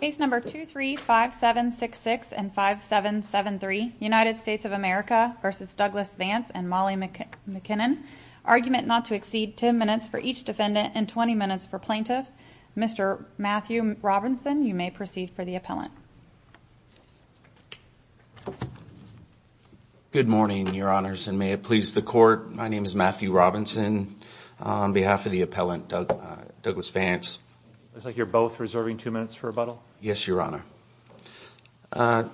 Case number two three five seven six six and five seven seven three United States of America versus Douglas Vance and Molly McKinnon argument not to exceed ten minutes for each defendant and 20 minutes for plaintiff. Mr. Matthew Robinson You may proceed for the appellant Good morning, your honors and may it please the court. My name is Matthew Robinson On behalf of the appellant Doug Douglas Vance, it's like you're both reserving two minutes for rebuttal. Yes, your honor I'd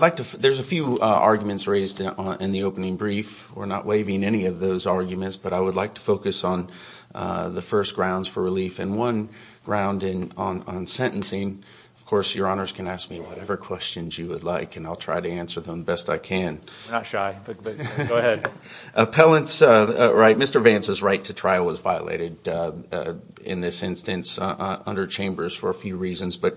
like to there's a few arguments raised in the opening brief. We're not waiving any of those arguments, but I would like to focus on the first grounds for relief and one Round in on on sentencing, of course, your honors can ask me whatever questions you would like and I'll try to answer them best I can not shy Appellants, right. Mr. Vance's right to trial was violated in this instance under chambers for a few reasons, but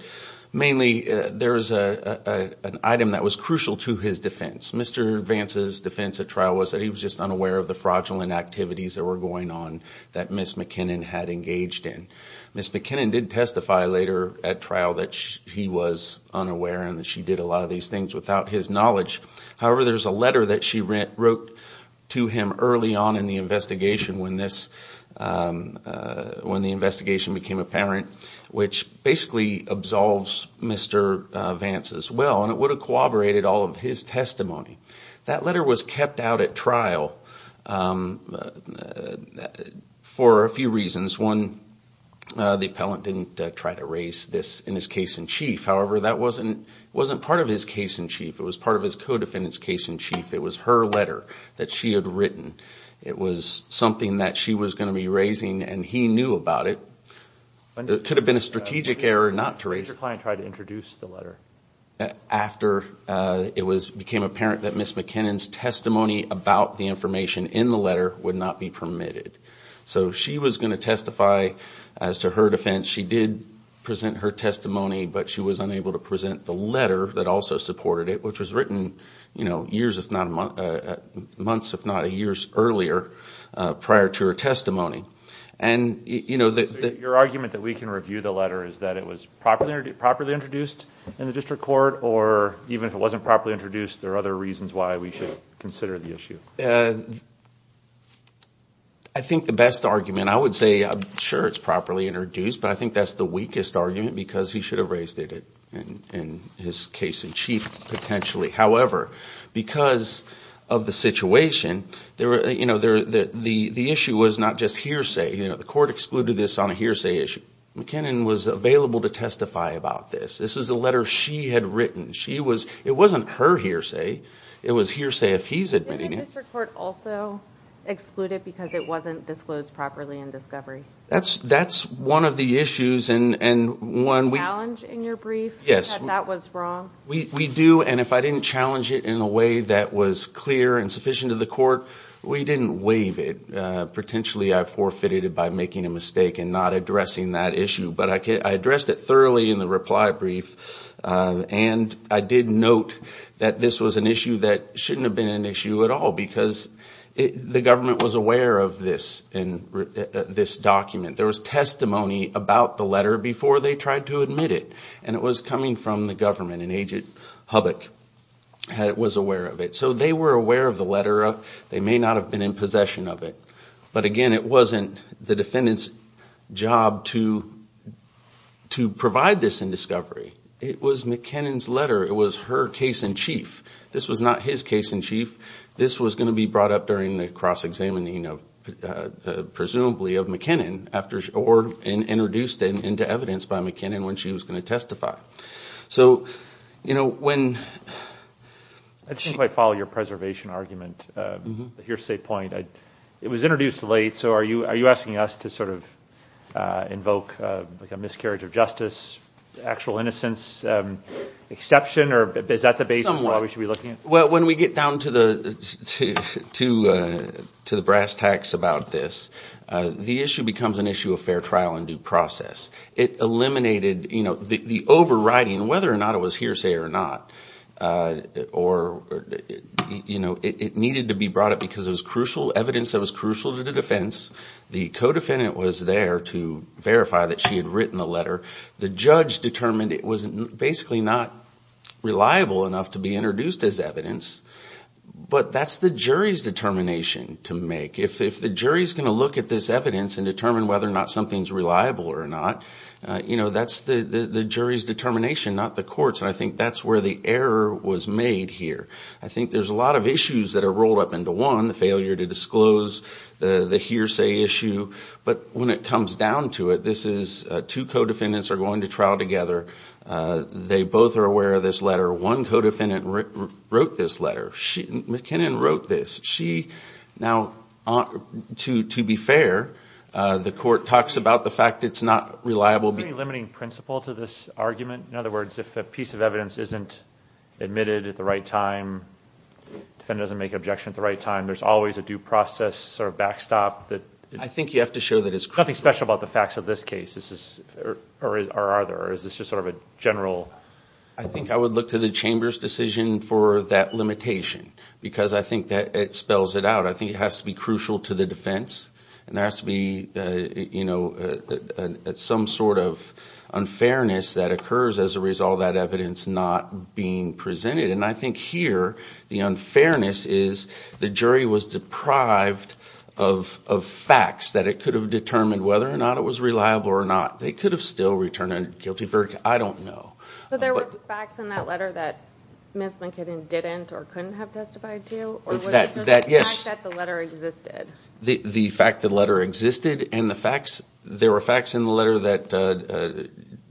mainly there's a Item that was crucial to his defense. Mr Vance's defense at trial was that he was just unaware of the fraudulent activities that were going on that. Miss McKinnon had engaged in Miss McKinnon did testify later at trial that she was unaware and that she did a lot of these things without his knowledge However, there's a letter that she rent wrote to him early on in the investigation when this When the investigation became apparent which basically absolves mr Vance as well and it would have corroborated all of his testimony. That letter was kept out at trial For a few reasons one The appellant didn't try to raise this in his case in chief. However, that wasn't wasn't part of his case in chief It was part of his co-defendants case in chief. It was her letter that she had written It was something that she was going to be raising and he knew about it But it could have been a strategic error not to raise your client tried to introduce the letter After it was became apparent that miss McKinnon's testimony about the information in the letter would not be permitted So she was going to testify as to her defense She did present her testimony, but she was unable to present the letter that also supported it which was written, you know years if not months, if not a year's earlier prior to her testimony and You know that your argument that we can review the letter Is that it was properly properly introduced in the district court or even if it wasn't properly introduced There are other reasons why we should consider the issue. I Think the best argument I would say sure it's properly introduced But I think that's the weakest argument because he should have raised it and in his case in chief potentially, however because of the situation There were you know, they're the the issue was not just hearsay You know the court excluded this on a hearsay issue McKinnon was available to testify about this This is a letter she had written. She was it wasn't her hearsay. It was hearsay if he's admitting it Also Excluded because it wasn't disclosed properly in discovery. That's that's one of the issues and and when we challenge in your brief Yes, that was wrong We do and if I didn't challenge it in a way that was clear and sufficient to the court. We didn't waive it Potentially I forfeited it by making a mistake and not addressing that issue, but I addressed it thoroughly in the reply brief And I did note that this was an issue that shouldn't have been an issue at all because The government was aware of this in This document there was testimony about the letter before they tried to admit it and it was coming from the government and agent Hubbock Had it was aware of it. So they were aware of the letter They may not have been in possession of it. But again, it wasn't the defendants job to To provide this in discovery, it was McKinnon's letter. It was her case in chief. This was not his case in chief this was going to be brought up during the cross-examining of Presumably of McKinnon after or and introduced in into evidence by McKinnon when she was going to testify so, you know when I Think might follow your preservation argument. Mm-hmm. Here's a point. I it was introduced late. So are you are you asking us to sort of? Invoke a miscarriage of justice actual innocence Exception or is that the base of what we should be looking at? Well when we get down to the to to the brass tacks about this The issue becomes an issue of fair trial and due process it Eliminated, you know the overriding whether or not it was hearsay or not or You know, it needed to be brought up because it was crucial evidence That was crucial to the defense the co-defendant was there to verify that she had written the letter the judge determined It wasn't basically not Reliable enough to be introduced as evidence But that's the jury's determination to make if the jury's going to look at this evidence and determine whether or not something's reliable or not You know, that's the the jury's determination not the courts and I think that's where the error was made here I think there's a lot of issues that are rolled up into one the failure to disclose the the hearsay issue But when it comes down to it, this is two co-defendants are going to trial together They both are aware of this letter one co-defendant wrote this letter. She McKinnon wrote this she now to to be fair The court talks about the fact it's not reliable be limiting principle to this argument In other words if a piece of evidence isn't admitted at the right time Defendant doesn't make objection at the right time. There's always a due process sort of backstop But I think you have to show that it's nothing special about the facts of this case This is or is or are there is this just sort of a general? I think I would look to the chamber's decision for that limitation because I think that it spells it out I think it has to be crucial to the defense and there has to be you know at some sort of Unfairness that occurs as a result that evidence not being presented and I think here the unfairness is the jury was deprived of Facts that it could have determined whether or not it was reliable or not. They could have still returned a guilty verdict I don't know The the fact that letter existed and the facts there were facts in the letter that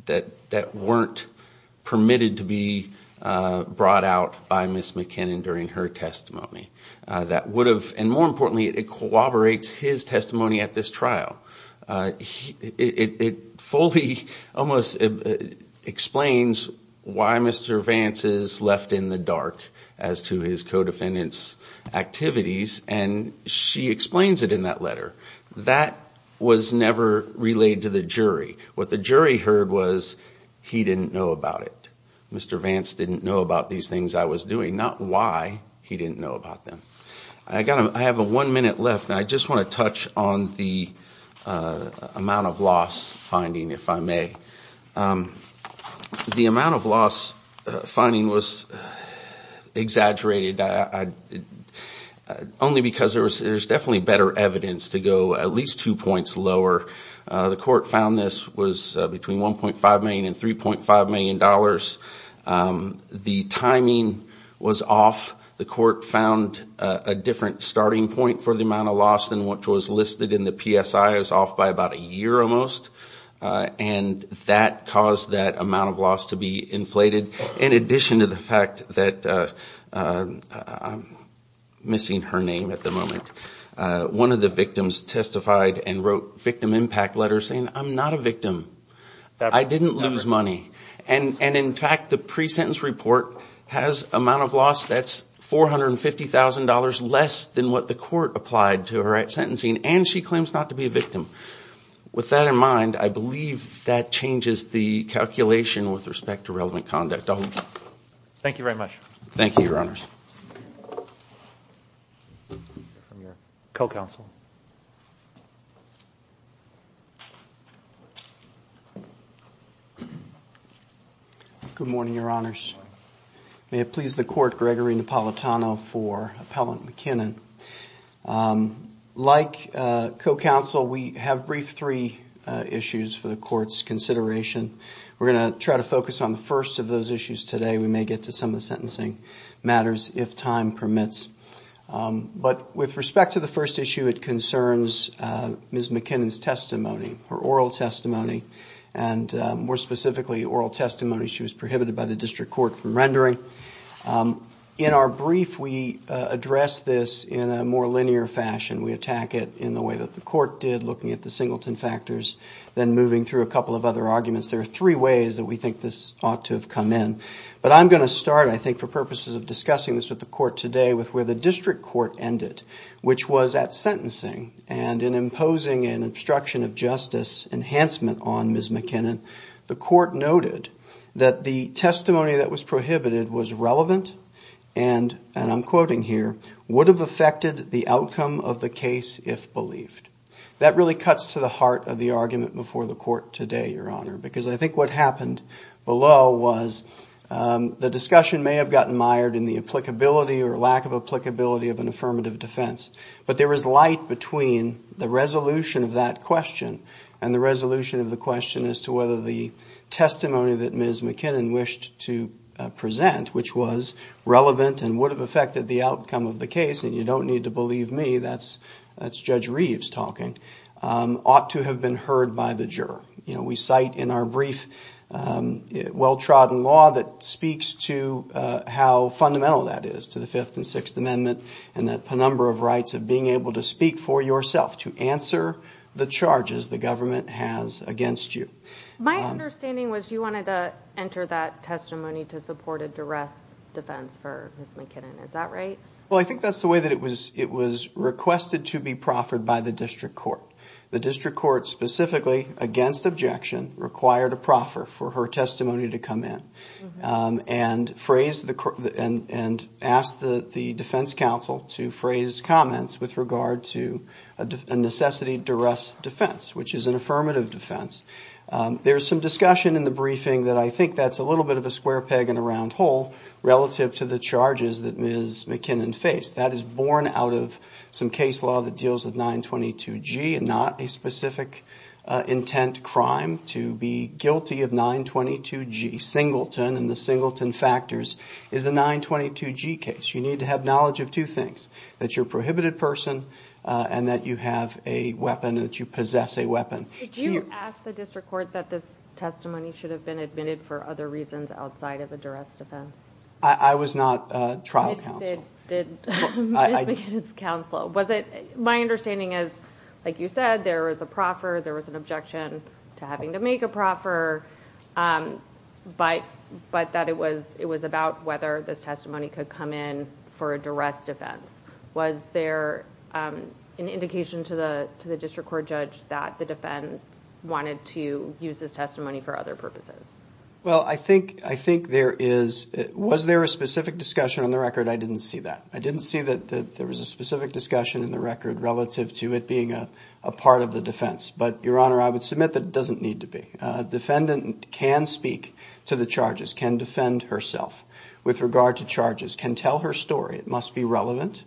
That that weren't permitted to be Brought out by miss McKinnon during her testimony that would have and more importantly it corroborates his testimony at this trial It fully almost Explains why mr. Vance is left in the dark as to his co-defendants Activities and she explains it in that letter that was never relayed to the jury What the jury heard was he didn't know about it. Mr. Vance didn't know about these things I was doing not why he didn't know about them. I got him. I have a one minute left. I just want to touch on the amount of loss finding if I may The amount of loss finding was Exaggerated I Only because there was there's definitely better evidence to go at least two points lower The court found this was between 1.5 million and 3.5 million dollars The timing was off the court found a different starting point for the amount of loss than what was listed in the PSI I was off by about a year almost and that caused that amount of loss to be inflated in addition to the fact that Missing her name at the moment One of the victims testified and wrote victim impact letters saying I'm not a victim That I didn't lose money and and in fact the pre-sentence report has amount of loss. That's $450,000 less than what the court applied to her at sentencing and she claims not to be a victim With that in mind, I believe that changes the calculation with respect to relevant conduct. Oh Thank you very much. Thank you your honors Co-counsel Good morning, your honors may it please the court Gregory Napolitano for appellant McKinnon Like Co-counsel, we have briefed three issues for the courts consideration We're going to try to focus on the first of those issues today. We may get to some of the sentencing matters if time permits But with respect to the first issue it concerns Miss McKinnon's testimony her oral testimony and More specifically oral testimony. She was prohibited by the district court from rendering In our brief we address this in a more linear fashion We attack it in the way that the court did looking at the singleton factors then moving through a couple of other arguments There are three ways that we think this ought to have come in But I'm going to start I think for purposes of discussing this with the court today with where the district court ended Which was at sentencing and in imposing an obstruction of justice Enhancement on miss McKinnon the court noted that the testimony that was prohibited was relevant And and I'm quoting here would have affected the outcome of the case if believed That really cuts to the heart of the argument before the court today your honor because I think what happened below was The discussion may have gotten mired in the applicability or lack of applicability of an affirmative defense but there was light between the resolution of that question and the resolution of the question as to whether the testimony that ms. McKinnon wished to Present which was relevant and would have affected the outcome of the case and you don't need to believe me. That's that's judge Reeves talking Ought to have been heard by the juror, you know, we cite in our brief Well trodden law that speaks to How fundamental that is to the fifth and sixth amendment and that penumbra of rights of being able to speak for yourself to answer? The charges the government has against you my understanding was you wanted to enter that testimony to support a duress? Defense for McKinnon, is that right? Well, I think that's the way that it was it was requested to be proffered by the district court the district court specifically against objection required a proffer for her testimony to come in and phrase the court and and ask the the defense counsel to phrase comments with regard to a Necessity duress defense, which is an affirmative defense There's some discussion in the briefing that I think that's a little bit of a square peg in a round hole Relative to the charges that ms. McKinnon face that is born out of some case law that deals with 922 G and not a specific Intent crime to be guilty of 922 G Singleton and the Singleton factors is a 922 G case you need to have knowledge of two things that you're prohibited person And that you have a weapon that you possess a weapon Did you ask the district court that this testimony should have been admitted for other reasons outside of a duress defense? I I was not a trial Did Counsel was it my understanding is like you said there was a proffer there was an objection to having to make a proffer But but that it was it was about whether this testimony could come in for a duress defense. Was there an indication to the to the district court judge that the defense Wanted to use this testimony for other purposes Well, I think I think there is was there a specific discussion on the record I didn't see that I didn't see that that there was a specific discussion in the record relative to it being a part of the defense But your honor, I would submit that it doesn't need to be Defendant can speak to the charges can defend herself with regard to charges can tell her story. It must be relevant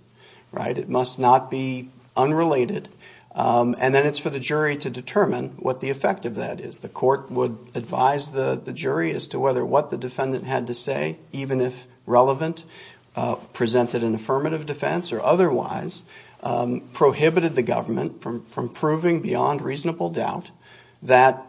Right. It must not be unrelated And then it's for the jury to determine what the effect of that is the court would advise the the jury as to whether what The defendant had to say even if relevant presented an affirmative defense or otherwise Prohibited the government from from proving beyond reasonable doubt that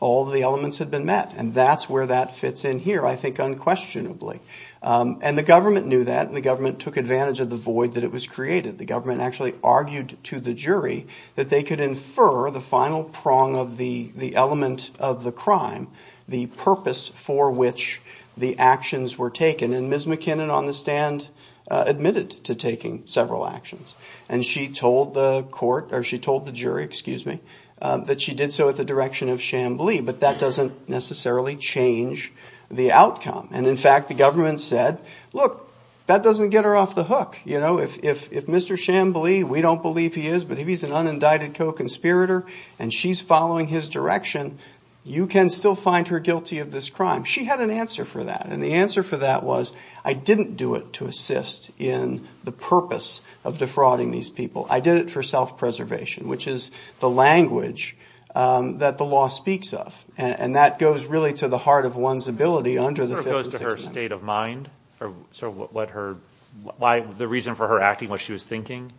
all the elements had been met and that's where that fits in here I think unquestionably And the government knew that and the government took advantage of the void that it was created the government actually Argued to the jury that they could infer the final prong of the the element of the crime The purpose for which the actions were taken and ms. McKinnon on the stand Admitted to taking several actions and she told the court or she told the jury, excuse me That she did so at the direction of Chamblee, but that doesn't necessarily Change the outcome and in fact the government said look that doesn't get her off the hook You know if if if mr. Chamblee, we don't believe he is but if he's an unindicted co-conspirator and she's following his direction You can still find her guilty of this crime She had an answer for that and the answer for that was I didn't do it to assist in The purpose of defrauding these people I did it for self-preservation, which is the language that the law speaks of and that goes really to the heart of one's ability under the State of mind or so what her why the reason for her acting what she was thinking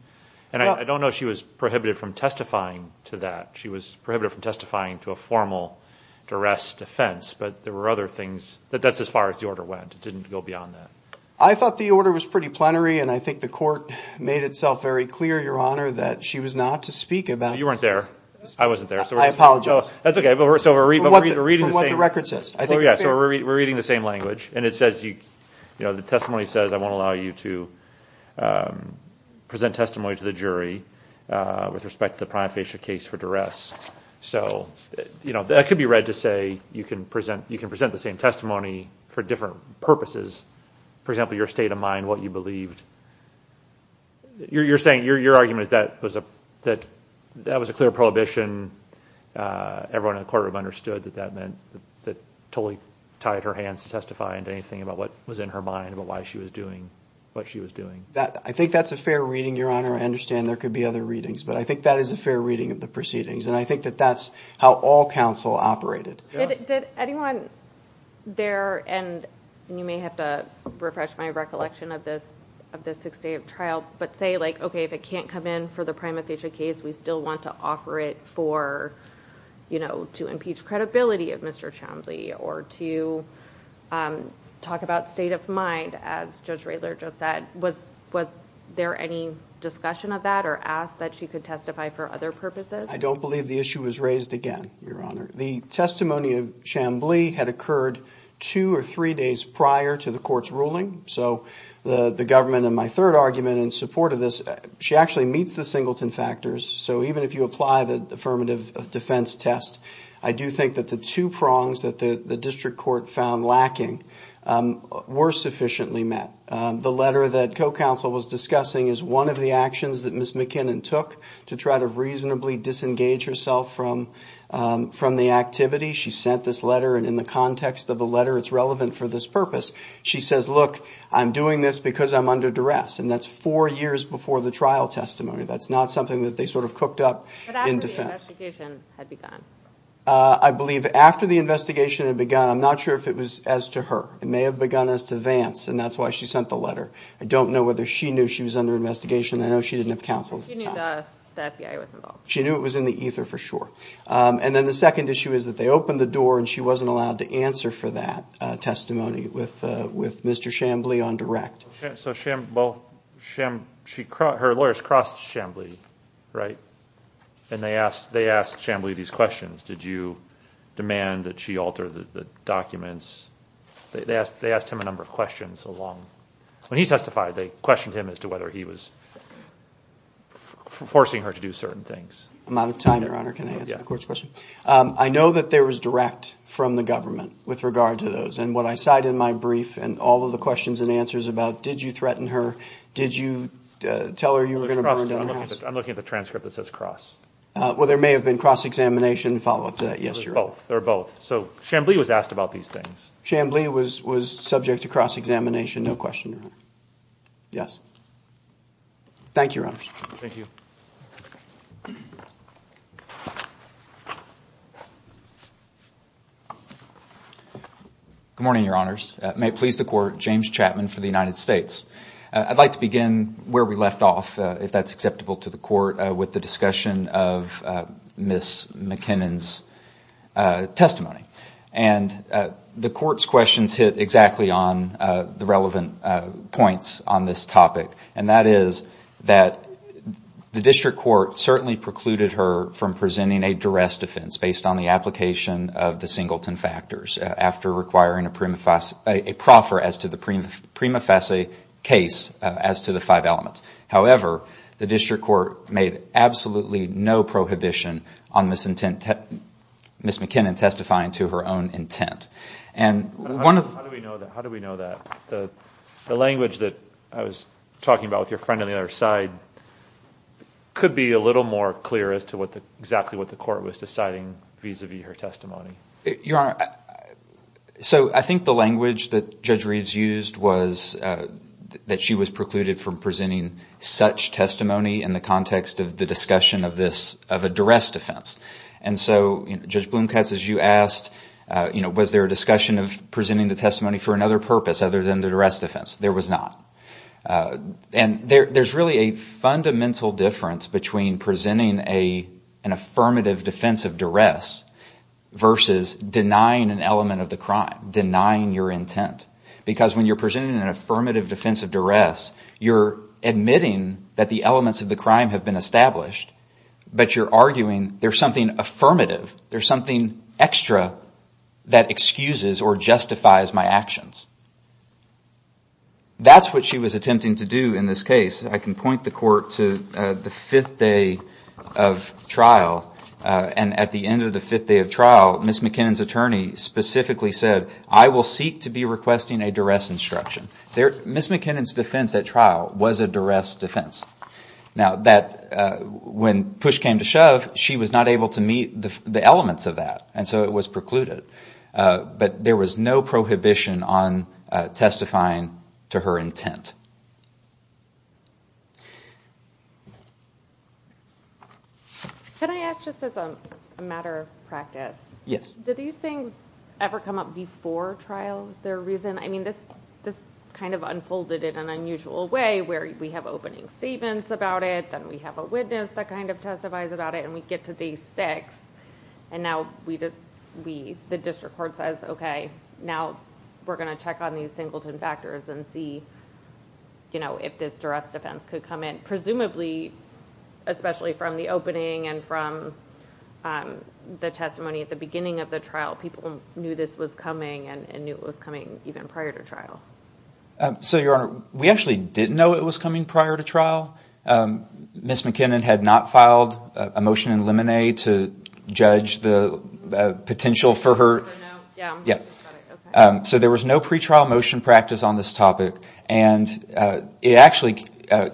And I don't know she was prohibited from testifying to that She was prohibited from testifying to a formal Duress defense, but there were other things that that's as far as the order went. It didn't go beyond that I thought the order was pretty plenary and I think the court made itself very clear your honor that she was not to speak about You weren't there. I wasn't there. So I apologize. That's okay. But we're so we're reading the record says We're reading the same language and it says you you know, the testimony says I won't allow you to Present testimony to the jury with respect to the prima facie case for duress So, you know that could be read to say you can present you can present the same testimony for different purposes For example your state of mind what you believed You're saying your argument is that was a that that was a clear prohibition Everyone in the courtroom understood that that meant that totally tied her hands to testify and anything about what was in her mind But why she was doing what she was doing that. I think that's a fair reading your honor I understand there could be other readings But I think that is a fair reading of the proceedings and I think that that's how all counsel operated There and you may have to refresh my recollection of this of this six day of trial But say like okay if it can't come in for the prima facie case, we still want to offer it for You know to impeach credibility of mr. Chamblee or to Talk about state of mind as judge Rayler just said was was there any? Discussion of that or asked that she could testify for other purposes. I don't believe the issue was raised again Your honor the testimony of Chamblee had occurred two or three days prior to the court's ruling So the the government and my third argument in support of this she actually meets the singleton factors So even if you apply the affirmative defense test, I do think that the two prongs that the the district court found lacking Were sufficiently met the letter that co-counsel was discussing is one of the actions that miss McKinnon took to try to reasonably disengage herself from From the activity she sent this letter and in the context of the letter. It's relevant for this purpose She says look I'm doing this because I'm under duress and that's four years before the trial testimony That's not something that they sort of cooked up Had begun I Believe after the investigation had begun. I'm not sure if it was as to her It may have begun as to Vance and that's why she sent the letter I don't know whether she knew she was under investigation. I know she didn't have counsel She knew it was in the ether for sure And then the second issue is that they opened the door and she wasn't allowed to answer for that Testimony with with mr. Chamblee on direct so sham Sham she caught her lawyers crossed Chamblee, right? And they asked they asked Chamblee these questions. Did you? Demand that she altered the documents They asked they asked him a number of questions along when he testified they questioned him as to whether he was Forcing her to do certain things I'm out of time your honor. Can I of course question? I know that there was direct from the government with regard to those and what I cite in my brief and all of the questions And answers about did you threaten her? Did you tell her you? I'm looking at the transcript that says cross. Well, there may have been cross-examination follow-up to that. Yes, you're both They're both so Chamblee was asked about these things Chamblee was was subject to cross-examination. No question Yes Thank you Thank you Good morning, your honors may please the court James Chapman for the United States I'd like to begin where we left off if that's acceptable to the court with the discussion of miss McKinnon's testimony and the courts questions hit exactly on the relevant points on this topic and that is that The district court certainly precluded her from presenting a duress defense based on the application of the singleton factors After requiring a prima facie a proffer as to the prima facie case as to the five elements However, the district court made absolutely no prohibition on this intent Miss McKinnon testifying to her own intent and one of how do we know that? The language that I was talking about with your friend on the other side Could be a little more clear as to what the exactly what the court was deciding vis-a-vis her testimony your honor so I think the language that judge Reeves used was That she was precluded from presenting such testimony in the context of the discussion of this of a duress defense And so judge Blomkast as you asked, you know Was there a discussion of presenting the testimony for another purpose other than the duress defense there was not and there there's really a fundamental difference between presenting a an affirmative defense of duress Versus denying an element of the crime denying your intent because when you're presenting an affirmative defense of duress You're admitting that the elements of the crime have been established But you're arguing there's something affirmative. There's something extra That excuses or justifies my actions That's what she was attempting to do in this case I can point the court to the fifth day of Trial and at the end of the fifth day of trial miss McKinnon's attorney Specifically said I will seek to be requesting a duress instruction there miss McKinnon's defense that trial was a duress defense now that When push came to shove she was not able to meet the elements of that and so it was precluded But there was no prohibition on testifying to her intent Can I ask just as a matter of practice Yes, did these things ever come up before trials their reason? I mean this this kind of unfolded in an unusual way where we have opening statements about it Then we have a witness that kind of testifies about it and we get to day six And now we just we the district court says, okay now we're gonna check on these singleton factors and see You know if this duress defense could come in presumably especially from the opening and from The testimony at the beginning of the trial people knew this was coming and knew it was coming even prior to trial So your honor, we actually didn't know it was coming prior to trial Miss McKinnon had not filed a motion in lemonade to judge the Potential for her. Yeah so there was no pretrial motion practice on this topic and It actually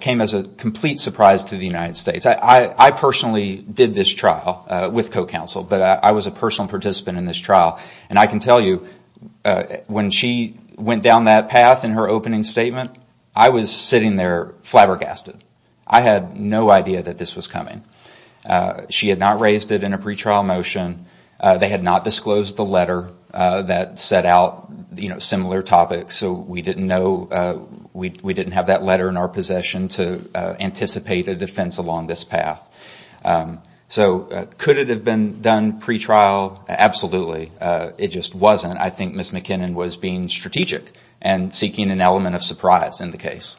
came as a complete surprise to the United States I I personally did this trial with co-counsel, but I was a personal participant in this trial and I can tell you When she went down that path in her opening statement, I was sitting there flabbergasted I had no idea that this was coming She had not raised it in a pretrial motion They had not disclosed the letter that set out, you know similar topics. So we didn't know We didn't have that letter in our possession to anticipate a defense along this path So could it have been done pretrial? Absolutely. It just wasn't I think miss McKinnon was being strategic and seeking an element of surprise in the case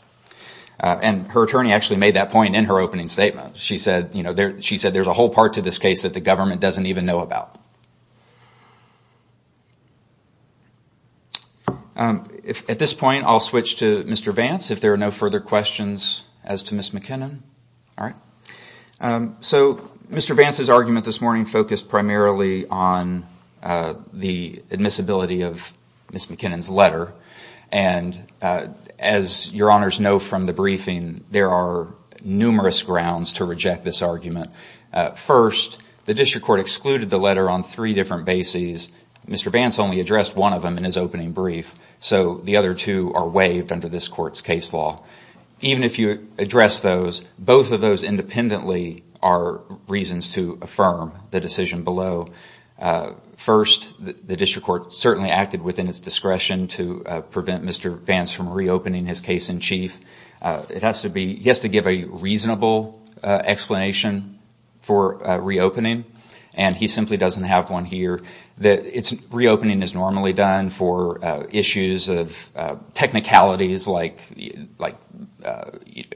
And her attorney actually made that point in her opening statement She said, you know there she said there's a whole part to this case that the government doesn't even know about If At this point I'll switch to mr. Vance if there are no further questions as to miss McKinnon. All right So mr. Vance's argument this morning focused primarily on the admissibility of miss McKinnon's letter and As your honors know from the briefing there are numerous grounds to reject this argument First the district court excluded the letter on three different bases. Mr. Vance only addressed one of them in his opening brief So the other two are waived under this court's case law Even if you address those both of those independently are Reasons to affirm the decision below First the district court certainly acted within its discretion to prevent. Mr. Vance from reopening his case-in-chief It has to be yes to give a reasonable Explanation for reopening and he simply doesn't have one here that it's reopening is normally done for issues of technicalities like like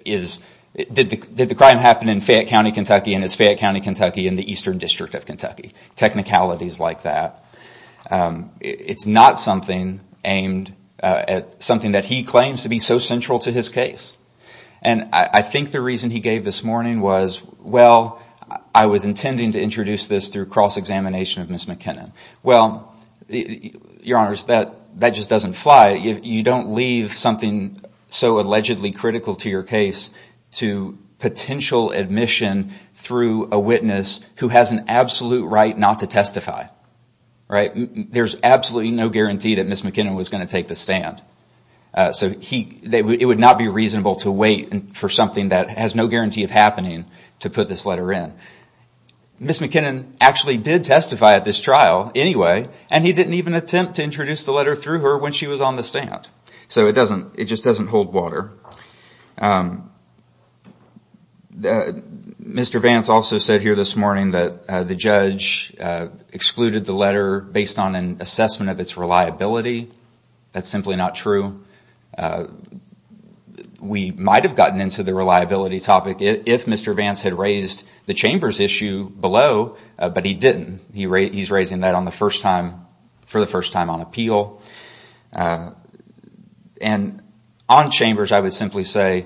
Is it did the crime happen in Fayette County, Kentucky in his Fayette County, Kentucky in the Eastern District of Kentucky? technicalities like that it's not something aimed at something that he claims to be so central to his case and I think the reason he gave this morning was well, I was intending to introduce this through cross-examination of miss McKinnon well Your honors that that just doesn't fly if you don't leave something so allegedly critical to your case to Potential admission through a witness who has an absolute right not to testify Right. There's absolutely no guarantee that miss McKinnon was going to take the stand So he they would not be reasonable to wait and for something that has no guarantee of happening to put this letter in Miss McKinnon actually did testify at this trial anyway And he didn't even attempt to introduce the letter through her when she was on the stand. So it doesn't it just doesn't hold water The Mr. Vance also said here this morning that the judge Excluded the letter based on an assessment of its reliability. That's simply not true We might have gotten into the reliability topic if mr. Vance had raised the chambers issue below But he didn't he rate he's raising that on the first time for the first time on appeal and on chambers, I would simply say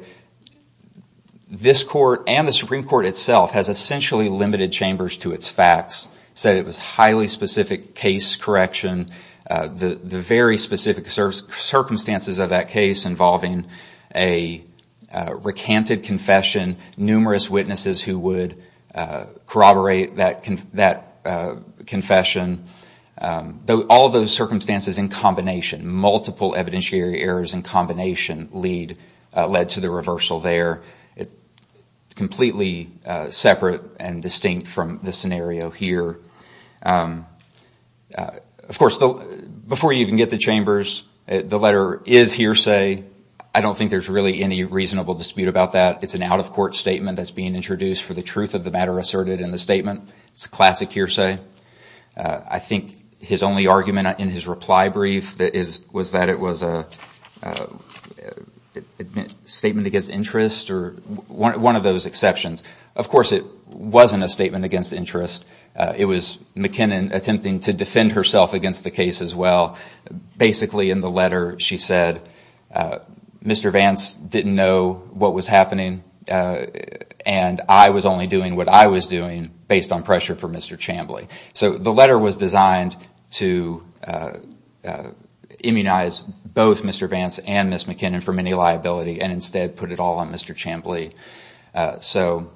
This court and the Supreme Court itself has essentially limited chambers to its facts said it was highly specific case correction the the very specific service circumstances of that case involving a Recanted confession numerous witnesses who would corroborate that can that confession Though all those circumstances in combination multiple evidentiary errors in combination lead Led to the reversal there. It's completely Separate and distinct from the scenario here Of course though before you even get the chambers the letter is hearsay I don't think there's really any reasonable dispute about that. It's an out-of-court statement That's being introduced for the truth of the matter asserted in the statement. It's a classic hearsay I think his only argument in his reply brief. That is was that it was a A Statement against interest or one of those exceptions, of course, it wasn't a statement against interest It was McKinnon attempting to defend herself against the case as well Basically in the letter she said Mr. Vance didn't know what was happening And I was only doing what I was doing based on pressure for mr. Chambly. So the letter was designed to Immunize both. Mr. Vance and miss McKinnon for many liability and instead put it all on. Mr. Chambly so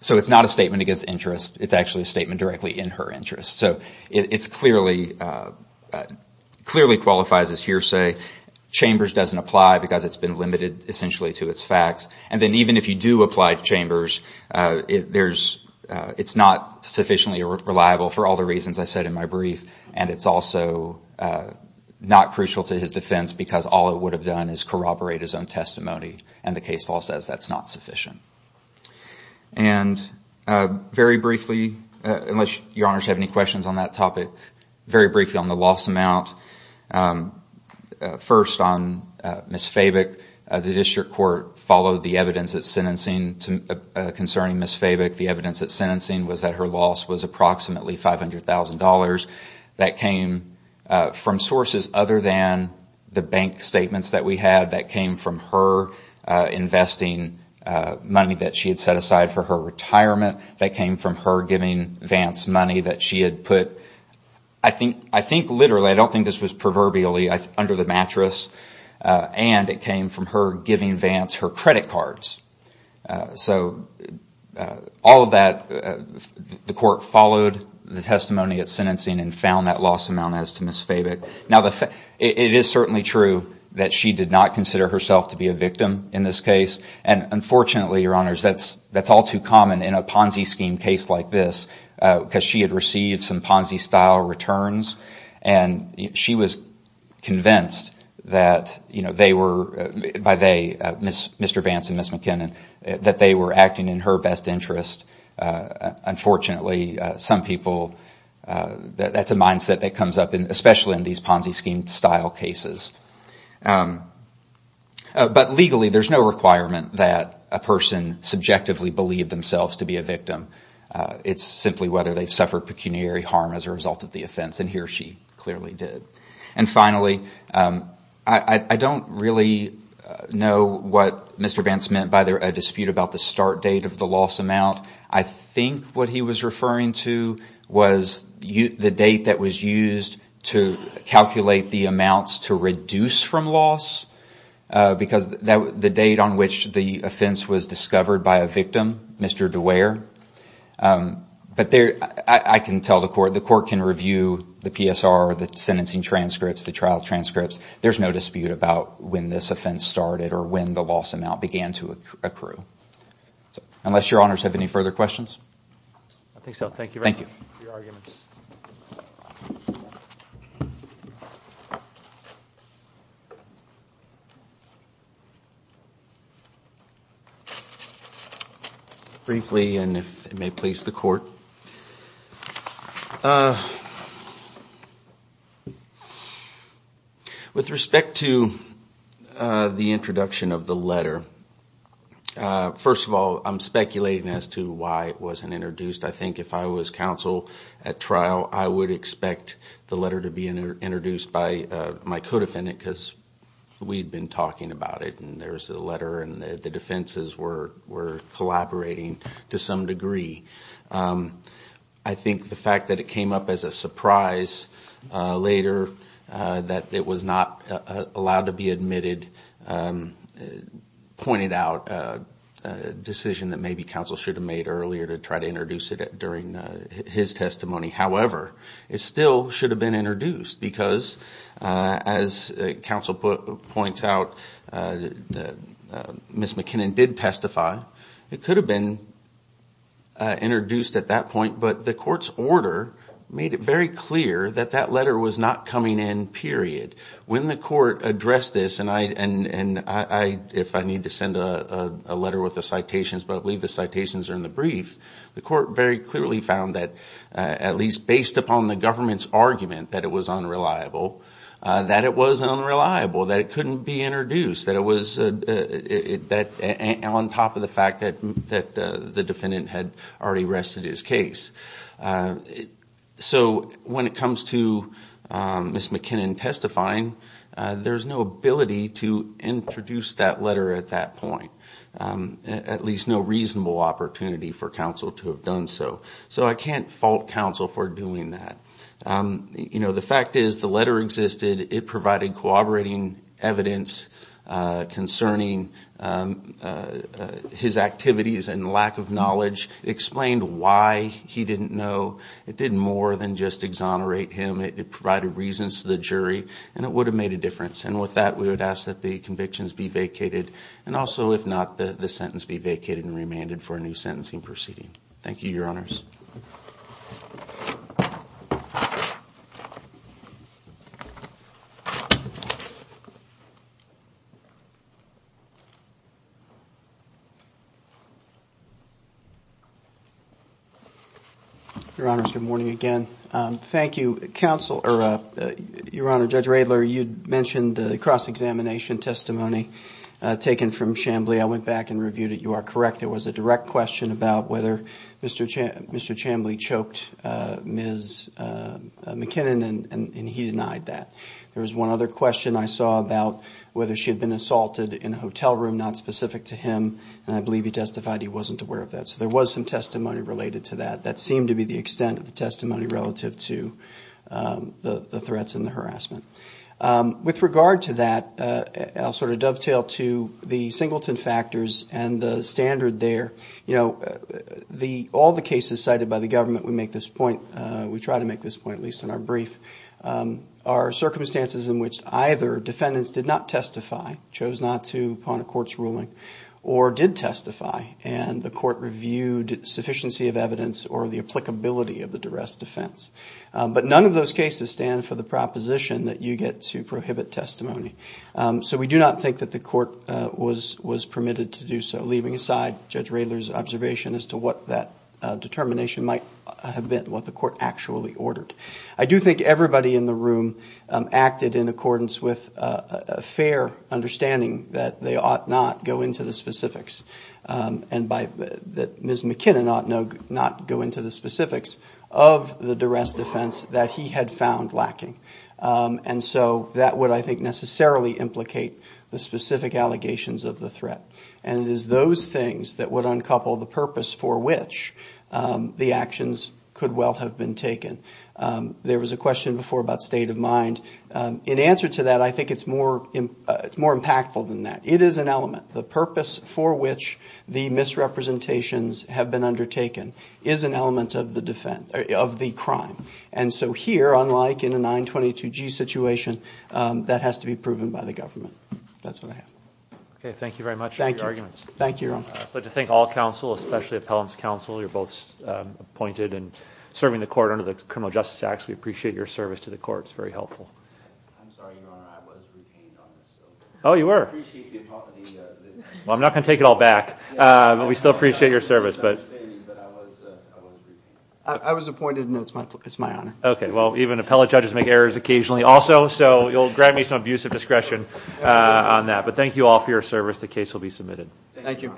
So it's not a statement against interest. It's actually a statement directly in her interest. So it's clearly Clearly qualifies as hearsay Chambers doesn't apply because it's been limited essentially to its facts and then even if you do apply to chambers There's it's not sufficiently reliable for all the reasons I said in my brief and it's also Not crucial to his defense because all it would have done is corroborate his own testimony and the case law says that's not sufficient and Very briefly unless your honors have any questions on that topic very briefly on the loss amount First on miss Faber the district court followed the evidence that sentencing to Concerning miss Faber the evidence that sentencing was that her loss was approximately five hundred thousand dollars that came From sources other than the bank statements that we had that came from her investing Money that she had set aside for her retirement that came from her giving Vance money that she had put I Think I think literally I don't think this was proverbially under the mattress And it came from her giving Vance her credit cards So all of that The court followed the testimony at sentencing and found that loss amount as to miss Faber now The fact it is certainly true that she did not consider herself to be a victim in this case And unfortunately your honors, that's that's all too common in a Ponzi scheme case like this because she had received some Ponzi style returns and She was Convinced that you know, they were by they miss mr. Vance and miss McKinnon that they were acting in her best interest unfortunately some people That's a mindset that comes up in especially in these Ponzi scheme style cases But legally there's no requirement that a person subjectively believe themselves to be a victim it's simply whether they've suffered pecuniary harm as a result of the offense and here she clearly did and finally, I Don't really Know what? Mr. Vance meant by there a dispute about the start date of the loss amount I think what he was referring to was you the date that was used to Calculate the amounts to reduce from loss Because that the date on which the offense was discovered by a victim. Mr. Dewar But there I can tell the court the court can review the PSR the sentencing transcripts the trial transcripts There's no dispute about when this offense started or when the loss amount began to accrue Unless your honors have any further questions I think so. Thank you. Thank you Briefly and if it may please the court With respect to the introduction of the letter First of all, I'm speculating as to why it wasn't introduced I think if I was counsel at trial I would expect the letter to be introduced by my co-defendant because We've been talking about it and there's a letter and the defenses were were collaborating to some degree I Think the fact that it came up as a surprise Later that it was not allowed to be admitted It pointed out a Decision that maybe counsel should have made earlier to try to introduce it at during his testimony however, it still should have been introduced because as counsel put points out Miss McKinnon did testify it could have been Introduced at that point but the court's order made it very clear that that letter was not coming in period When the court addressed this and I and and I if I need to send a letter with the citations But I believe the citations are in the brief The court very clearly found that at least based upon the government's argument that it was unreliable that it was unreliable that it couldn't be introduced that it was That on top of the fact that that the defendant had already rested his case So when it comes to Miss McKinnon testifying there's no ability to introduce that letter at that point At least no reasonable opportunity for counsel to have done. So so I can't fault counsel for doing that You know, the fact is the letter existed it provided cooperating evidence concerning His activities and lack of knowledge Explained why he didn't know it didn't more than just exonerate him It provided reasons to the jury and it would have made a difference and with that we would ask that the convictions be vacated And also if not the the sentence be vacated and remanded for a new sentencing proceeding. Thank you your honors Your Honors good morning again. Thank you counsel or a Your honor judge Raylor. You'd mentioned the cross-examination testimony Taken from Chamblee. I went back and reviewed it. You are correct. There was a direct question about whether mr. Chan. Mr. Chamblee choked ms McKinnon and he denied that there was one other question I saw about whether she had been assaulted in a hotel room not specific to him And I believe he testified he wasn't aware of that so there was some testimony related to that that seemed to be the extent of the testimony relative to the threats and the harassment with regard to that I'll sort of dovetail to the singleton factors and the standard there, you know The all the cases cited by the government would make this point. We try to make this point at least in our brief our circumstances in which either defendants did not testify chose not to upon a court's ruling or Did testify and the court reviewed sufficiency of evidence or the applicability of the duress defense? But none of those cases stand for the proposition that you get to prohibit testimony So we do not think that the court was was permitted to do so leaving aside judge Rayler's observation as to what that Determination might have been what the court actually ordered. I do think everybody in the room acted in accordance with a Fair-understanding that they ought not go into the specifics And by that, Ms. McKinnon ought no not go into the specifics of the duress defense that he had found lacking And so that would I think necessarily Implicate the specific allegations of the threat and it is those things that would uncouple the purpose for which The actions could well have been taken There was a question before about state of mind in answer to that. I think it's more It's more impactful than that. It is an element the purpose for which the Misrepresentations have been undertaken is an element of the defense of the crime And so here unlike in a 922 G situation that has to be proven by the government. That's what I have Okay. Thank you very much. Thank you arguments. Thank you. But to thank all counsel, especially appellants counsel. You're both Appointed and serving the court under the criminal justice acts. We appreciate your service to the courts. Very helpful Oh you were Well, I'm not gonna take it all back, but we still appreciate your service, but I Was appointed no, it's my it's my honor. Okay. Well even appellate judges make errors occasionally also, so you'll grab me some abusive discretion On that but thank you all for your service. The case will be submitted. Thank you